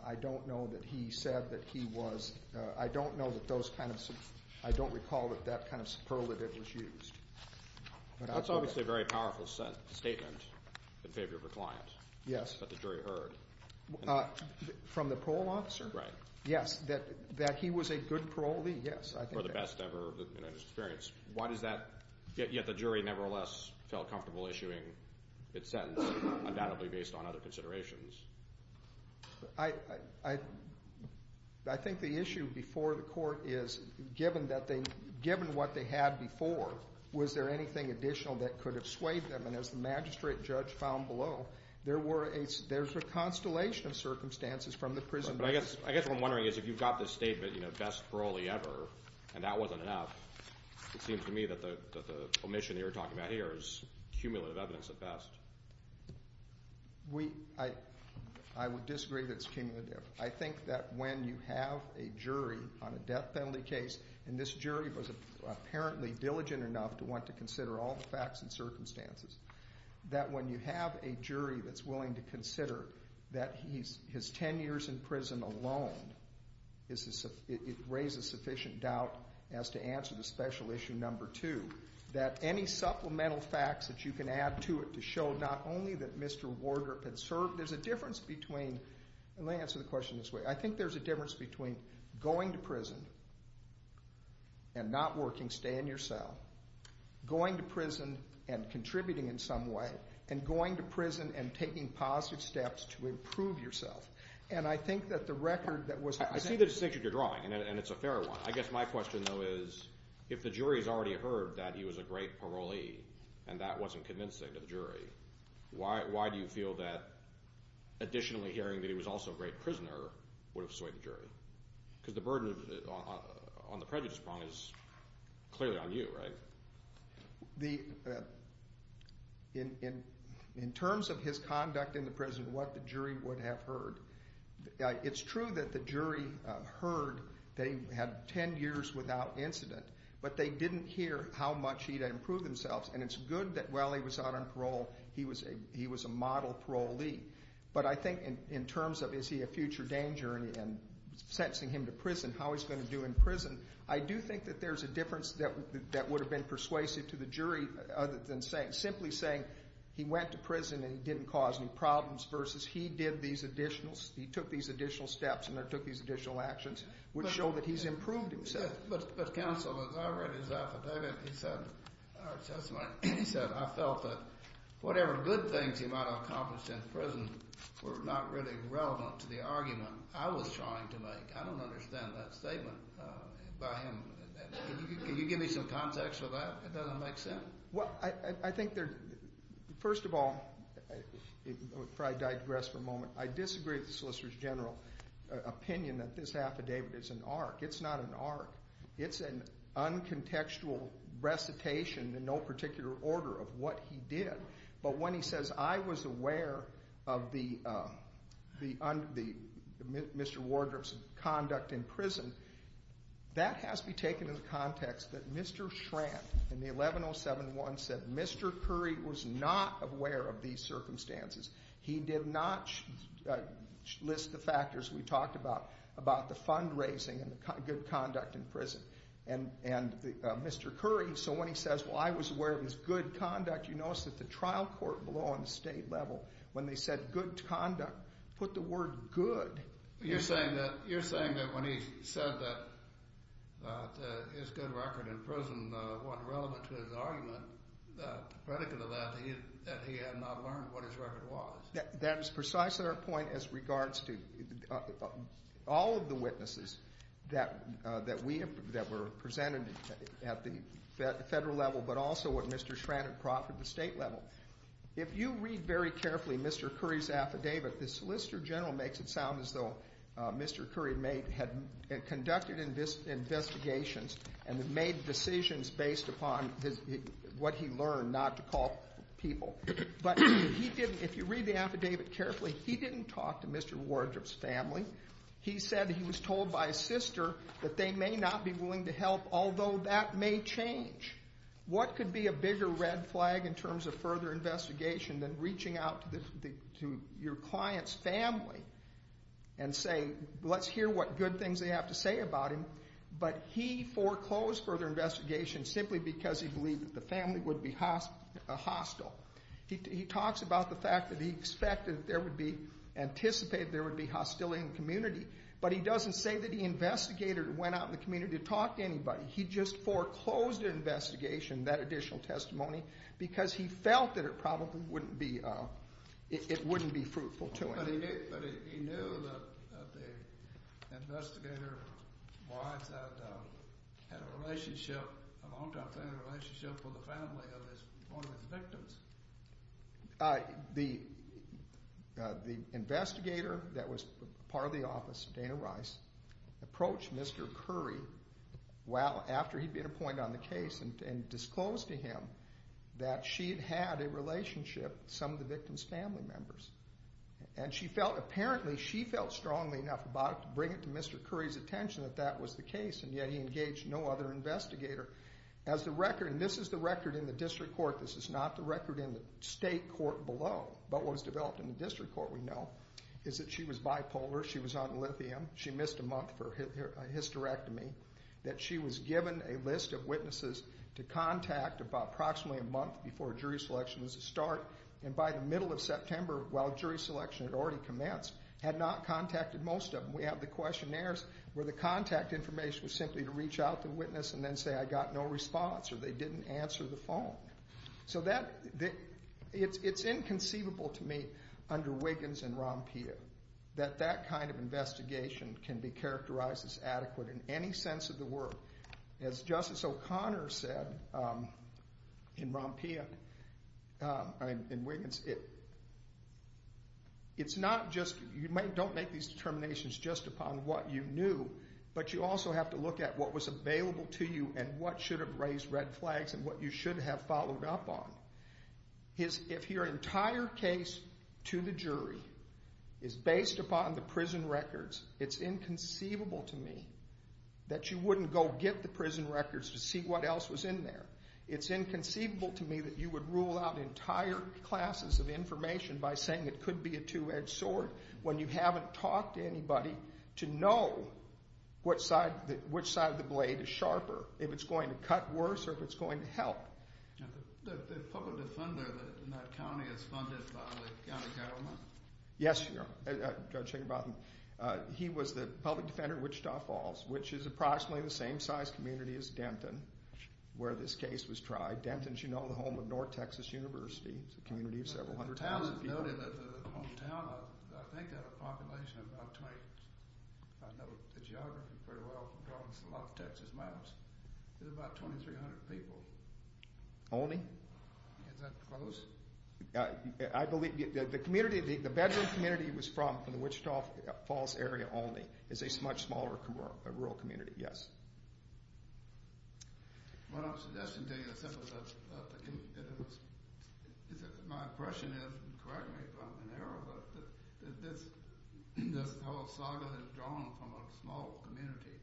I don't know that he said that he was – I don't know that those kind of – I don't recall that that kind of superlative was used. That's obviously a very powerful statement in favor of a client. Yes. That the jury heard. From the parole officer? Right. Yes, that he was a good parolee, yes. Or the best ever in his experience. Why does that – yet the jury nevertheless felt comfortable issuing its sentence, undoubtedly based on other considerations. I think the issue before the court is, given what they had before, was there anything additional that could have swayed them? And as the magistrate judge found below, there's a constellation of circumstances from the prison days. I guess what I'm wondering is if you've got this statement, you know, and that wasn't enough, it seems to me that the omission that you're talking about here is cumulative evidence at best. I would disagree that it's cumulative. I think that when you have a jury on a death penalty case, and this jury was apparently diligent enough to want to consider all the facts and circumstances, that when you have a jury that's willing to consider that his 10 years in prison alone raises sufficient doubt as to answer the special issue number two, that any supplemental facts that you can add to it to show not only that Mr. Wardrop had served, there's a difference between – and let me answer the question this way. I think there's a difference between going to prison and not working, staying in your cell, going to prison and contributing in some way, and going to prison and taking positive steps to improve yourself. And I think that the record that was – I see the distinction you're drawing, and it's a fair one. I guess my question, though, is if the jury has already heard that he was a great parolee and that wasn't convincing to the jury, why do you feel that additionally hearing that he was also a great prisoner would have swayed the jury? Because the burden on the prejudice prong is clearly on you, right? In terms of his conduct in the prison, what the jury would have heard, it's true that the jury heard that he had 10 years without incident, but they didn't hear how much he had improved himself. And it's good that while he was out on parole, he was a model parolee. But I think in terms of is he a future danger and sentencing him to prison, how he's going to do in prison, I do think that there's a difference that would have been persuasive to the jury other than simply saying he went to prison and he didn't cause any problems versus he did these additional – he took these additional steps and took these additional actions, which show that he's improved himself. But, counsel, as I read his affidavit, he said – or his testimony – he said, I felt that whatever good things he might have accomplished in prison were not really relevant to the argument I was trying to make. I don't understand that statement by him. Can you give me some context for that? It doesn't make sense. Well, I think there – first of all, before I digress for a moment, I disagree with the Solicitor General's opinion that this affidavit is an arc. It's not an arc. It's an uncontextual recitation in no particular order of what he did. But when he says, I was aware of Mr. Wardrop's conduct in prison, that has to be taken in the context that Mr. Schrant in the 11071 said Mr. Curry was not aware of these circumstances. He did not list the factors we talked about, about the fundraising and good conduct in prison. And Mr. Curry, so when he says, well, I was aware of his good conduct, you notice that the trial court below on the state level, when they said good conduct, put the word good. You're saying that when he said that his good record in prison wasn't relevant to his argument, the predicate of that, that he had not learned what his record was. That is precisely our point as regards to all of the witnesses that we – that were presented at the federal level, but also at Mr. Schrant and Crawford at the state level. If you read very carefully Mr. Curry's affidavit, the Solicitor General makes it sound as though Mr. Curry had conducted investigations and made decisions based upon what he learned not to call people. But he didn't – if you read the affidavit carefully, he didn't talk to Mr. Wardrop's family. He said he was told by his sister that they may not be willing to help, although that may change. What could be a bigger red flag in terms of further investigation than reaching out to your client's family and say, let's hear what good things they have to say about him. But he foreclosed further investigation simply because he believed that the family would be hostile. He talks about the fact that he expected there would be – anticipated there would be hostility in the community, but he doesn't say that he investigated or went out in the community to talk to anybody. He just foreclosed an investigation, that additional testimony, because he felt that it probably wouldn't be – it wouldn't be fruitful to him. But he knew that the investigator's wife had a relationship – a longtime family relationship with the family of one of his victims? The investigator that was part of the office, Dana Rice, approached Mr. Curry after he'd been appointed on the case and disclosed to him that she had had a relationship with some of the victim's family members. And she felt – apparently she felt strongly enough about it to bring it to Mr. Curry's attention that that was the case, and yet he engaged no other investigator. As the record – and this is the record in the district court. This is not the record in the state court below. But what was developed in the district court, we know, is that she was bipolar. She was on lithium. She missed a month for a hysterectomy. That she was given a list of witnesses to contact about approximately a month before jury selection was to start. And by the middle of September, while jury selection had already commenced, had not contacted most of them. We have the questionnaires where the contact information was simply to reach out to the witness and then say, I got no response, or they didn't answer the phone. So that – it's inconceivable to me under Wiggins and Rampea that that kind of investigation can be characterized as adequate in any sense of the word. As Justice O'Connor said in Rampea, in Wiggins, it's not just – you don't make these determinations just upon what you knew, but you also have to look at what was available to you and what should have raised red flags and what you should have followed up on. If your entire case to the jury is based upon the prison records, it's inconceivable to me that you wouldn't go get the prison records to see what else was in there. It's inconceivable to me that you would rule out entire classes of information by saying it could be a two-edged sword when you haven't talked to anybody to know which side of the blade is sharper, if it's going to cut worse or if it's going to help. The public defender in that county is funded by the county government? Yes, Judge Higginbotham. He was the public defender of Wichita Falls, which is approximately the same size community as Denton, where this case was tried. Denton is, you know, the home of North Texas University. It's a community of several hundred thousand people. The town is noted as the hometown of, I think, a population of about 20. I know the geography pretty well from going to a lot of Texas maps. It's about 2,300 people. Olney? Is that close? I believe the community, the bedroom community was from the Wichita Falls area, Olney. It's a much smaller rural community, yes. My impression is, and correct me if I'm in error, but this whole saga is drawn from a small community.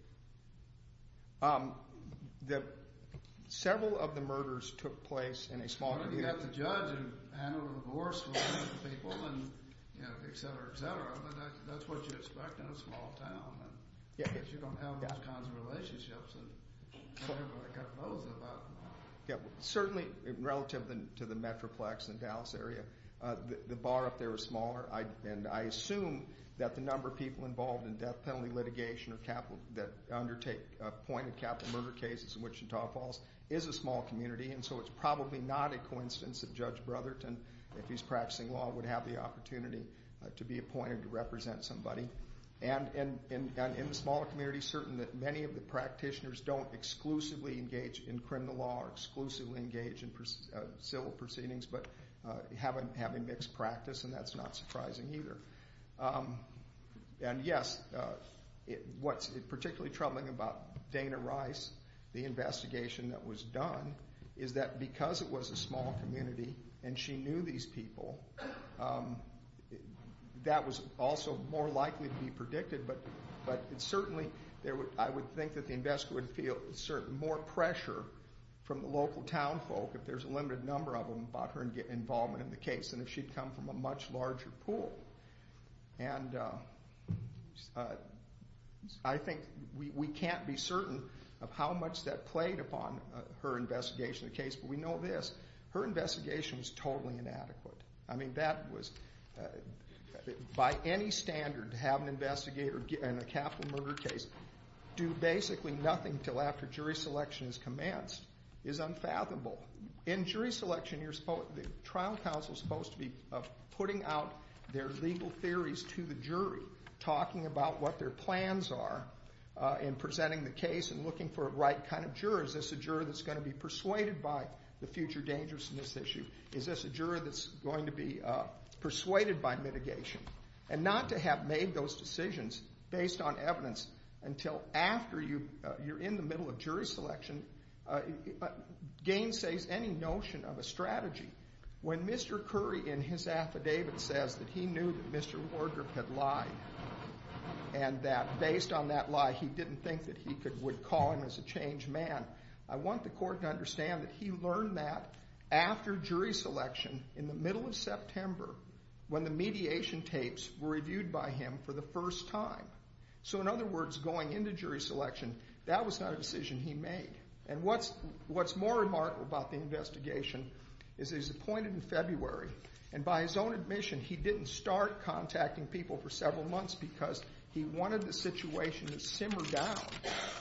Several of the murders took place in a small community. Well, you've got the judge who handled the divorce for a number of people, and, you know, et cetera, et cetera. But that's what you expect in a small town, because you don't have those kinds of relationships, and everybody got both of them. Certainly, relative to the Metroplex and Dallas area, the bar up there is smaller, and I assume that the number of people involved in death penalty litigation that undertake pointed capital murder cases in Wichita Falls is a small community, and so it's probably not a coincidence that Judge Brotherton, if he's practicing law, would have the opportunity to be appointed to represent somebody. And in the smaller community, certain that many of the practitioners don't exclusively engage in criminal law or exclusively engage in civil proceedings, but have a mixed practice, and that's not surprising either. And, yes, what's particularly troubling about Dana Rice, the investigation that was done, is that because it was a small community and she knew these people, that was also more likely to be predicted, but certainly I would think that the investigator would feel more pressure from the local town folk, if there's a limited number of them, about her involvement in the case than if she'd come from a much larger pool. And I think we can't be certain of how much that played upon her investigation of the case, but we know this. Her investigation was totally inadequate. I mean, that was, by any standard, to have an investigator in a capital murder case do basically nothing until after jury selection has commenced is unfathomable. In jury selection, the trial counsel is supposed to be putting out their legal theories to the jury, talking about what their plans are in presenting the case and looking for the right kind of juror. Is this a juror that's going to be persuaded by the future dangers in this issue? Is this a juror that's going to be persuaded by mitigation? And not to have made those decisions based on evidence until after you're in the middle of jury selection gainsays any notion of a strategy. When Mr. Curry, in his affidavit, says that he knew that Mr. Wardrobe had lied and that based on that lie he didn't think that he would call him as a changed man, I want the court to understand that he learned that after jury selection in the middle of September when the mediation tapes were reviewed by him for the first time. So in other words, going into jury selection, that was not a decision he made. And what's more remarkable about the investigation is he was appointed in February, and by his own admission he didn't start contacting people for several months because he wanted the situation to simmer down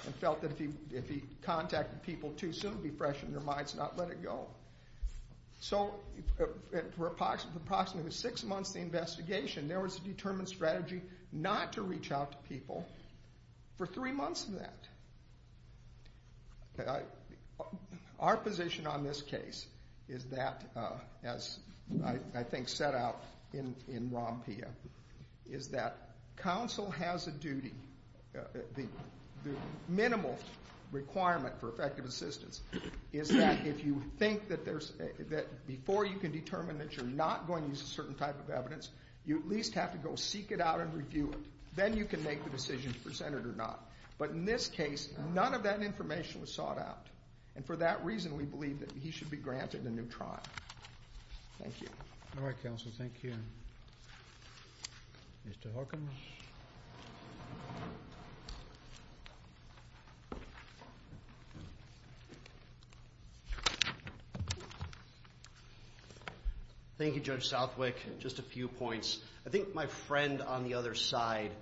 and felt that if he contacted people too soon it would be fresh in their minds and not let it go. So for approximately six months of the investigation, there was a determined strategy not to reach out to people for three months of that. Our position on this case is that, as I think set out in ROMPIA, is that counsel has a duty, the minimal requirement for effective assistance, is that if you think that before you can determine that you're not going to use a certain type of evidence, you at least have to go seek it out and review it. Then you can make the decision to present it or not. But in this case, none of that information was sought out, and for that reason we believe that he should be granted a new trial. Thank you. All right, counsel. Thank you. Mr. Hawkins. Thank you, Judge Southwick. Just a few points. I think my friend on the other side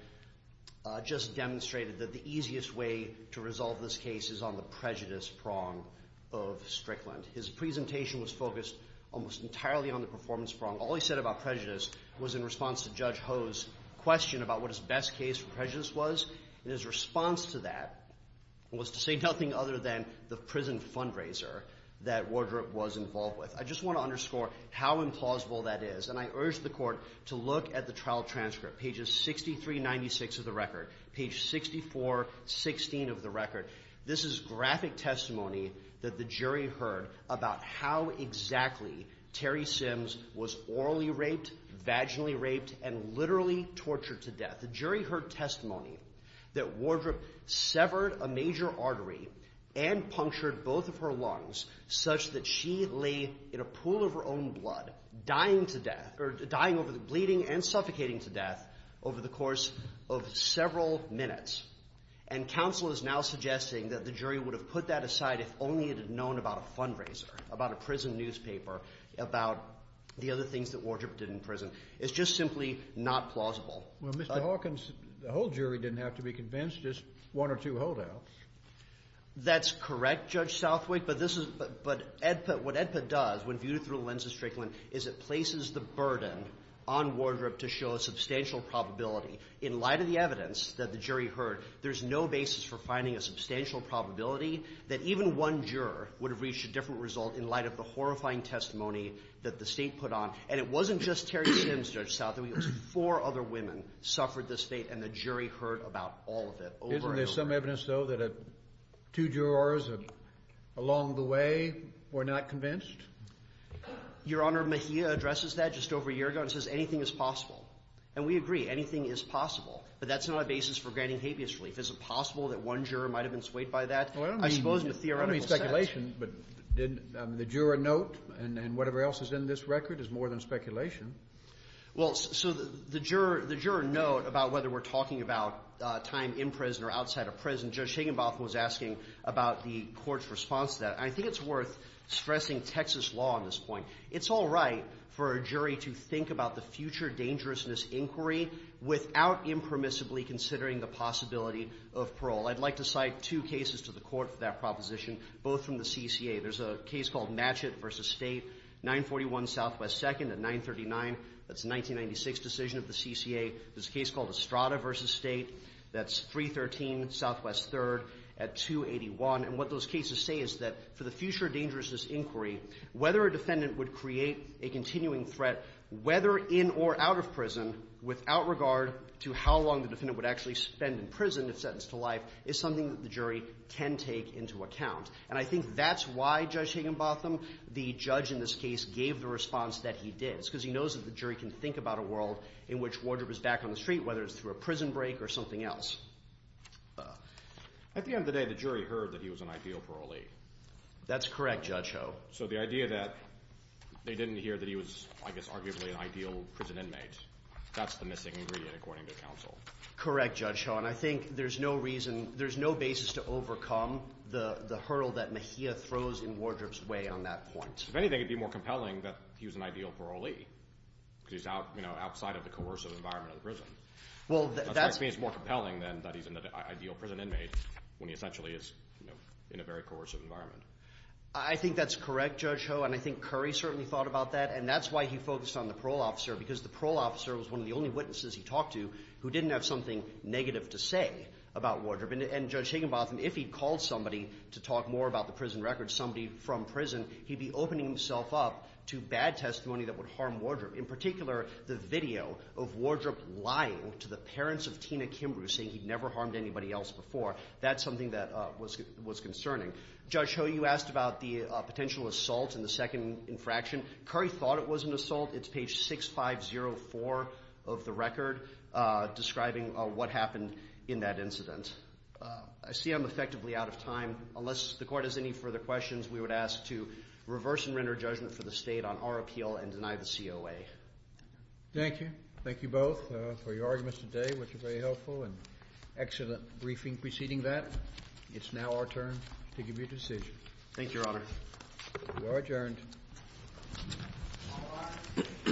just demonstrated that the easiest way to resolve this case is on the prejudice prong of Strickland. His presentation was focused almost entirely on the performance prong. All he said about prejudice was in response to Judge Ho's question about what his best case for prejudice was, and his response to that was to say nothing other than the prison fundraiser that Wardrop was involved with. I just want to underscore how implausible that is, and I urge the Court to look at the trial transcript, pages 6396 of the record, page 6416 of the record. This is graphic testimony that the jury heard about how exactly Terry Sims was orally raped, vaginally raped, and literally tortured to death. The jury heard testimony that Wardrop severed a major artery and punctured both of her lungs such that she lay in a pool of her own blood, dying to death, or dying over the bleeding and suffocating to death over the course of several minutes. And counsel is now suggesting that the jury would have put that aside if only it had known about a fundraiser, about a prison newspaper, about the other things that Wardrop did in prison. It's just simply not plausible. Well, Mr. Hawkins, the whole jury didn't have to be convinced, just one or two holdouts. That's correct, Judge Southwick, but this is – but Edputt – what Edputt does when viewed through the lens of Strickland is it places the burden on Wardrop to show a substantial probability in light of the evidence that the jury heard. There's no basis for finding a substantial probability that even one juror would have reached a different result in light of the horrifying testimony that the State put on. And it wasn't just Terry Sims, Judge Southwick. It was four other women suffered this fate, and the jury heard about all of it over and over. Isn't there some evidence, though, that two jurors along the way were not convinced? Your Honor, Mejia addresses that just over a year ago and says anything is possible. And we agree. Anything is possible. But that's not a basis for granting habeas relief. Is it possible that one juror might have been swayed by that? Well, I don't mean – I suppose in a theoretical sense. I don't mean speculation, but did the juror note and whatever else is in this record is more than speculation. Well, so the juror – the juror note about whether we're talking about time in prison or outside of prison, Judge Higginbotham was asking about the Court's response to that, and I think it's worth stressing Texas law on this point. It's all right for a jury to think about the future dangerousness inquiry without impermissibly considering the possibility of parole. I'd like to cite two cases to the Court for that proposition, both from the CCA. There's a case called Matchett v. State, 941 Southwest 2nd at 939. That's a 1996 decision of the CCA. There's a case called Estrada v. State. That's 313 Southwest 3rd at 281. And what those cases say is that for the future dangerousness inquiry, whether a defendant would create a continuing threat whether in or out of prison without regard to how long the defendant would actually spend in prison if sentenced to life is something that the jury can take into account. And I think that's why Judge Higginbotham, the judge in this case, gave the response that he did. It's because he knows that the jury can think about a world in which wardrobe is back on the street, whether it's through a prison break or something else. At the end of the day, the jury heard that he was an ideal parolee. That's correct, Judge Ho. So the idea that they didn't hear that he was, I guess, arguably an ideal prison inmate, that's the missing ingredient according to counsel. Correct, Judge Ho, and I think there's no reason, there's no basis to overcome the hurdle that Mejia throws in wardrobe's way on that point. If anything, it would be more compelling that he was an ideal parolee because he's outside of the coercive environment of the prison. That's why it's more compelling then that he's an ideal prison inmate when he essentially is in a very coercive environment. I think that's correct, Judge Ho, and I think Curry certainly thought about that, and that's why he focused on the parole officer, because the parole officer was one of the only witnesses he talked to who didn't have something negative to say about wardrobe. And Judge Higginbotham, if he called somebody to talk more about the prison records, somebody from prison, he'd be opening himself up to bad testimony that would harm wardrobe, in particular the video of wardrobe lying to the parents of Tina Kimbrough, saying he'd never harmed anybody else before. That's something that was concerning. Judge Ho, you asked about the potential assault in the second infraction. Curry thought it was an assault. It's page 6504 of the record describing what happened in that incident. I see I'm effectively out of time. Unless the Court has any further questions, we would ask to reverse and render judgment for the State on our appeal and deny the COA. Thank you. Thank you both for your arguments today, which were very helpful and excellent briefing preceding that. It's now our turn to give you a decision. Thank you, Your Honor. You are adjourned.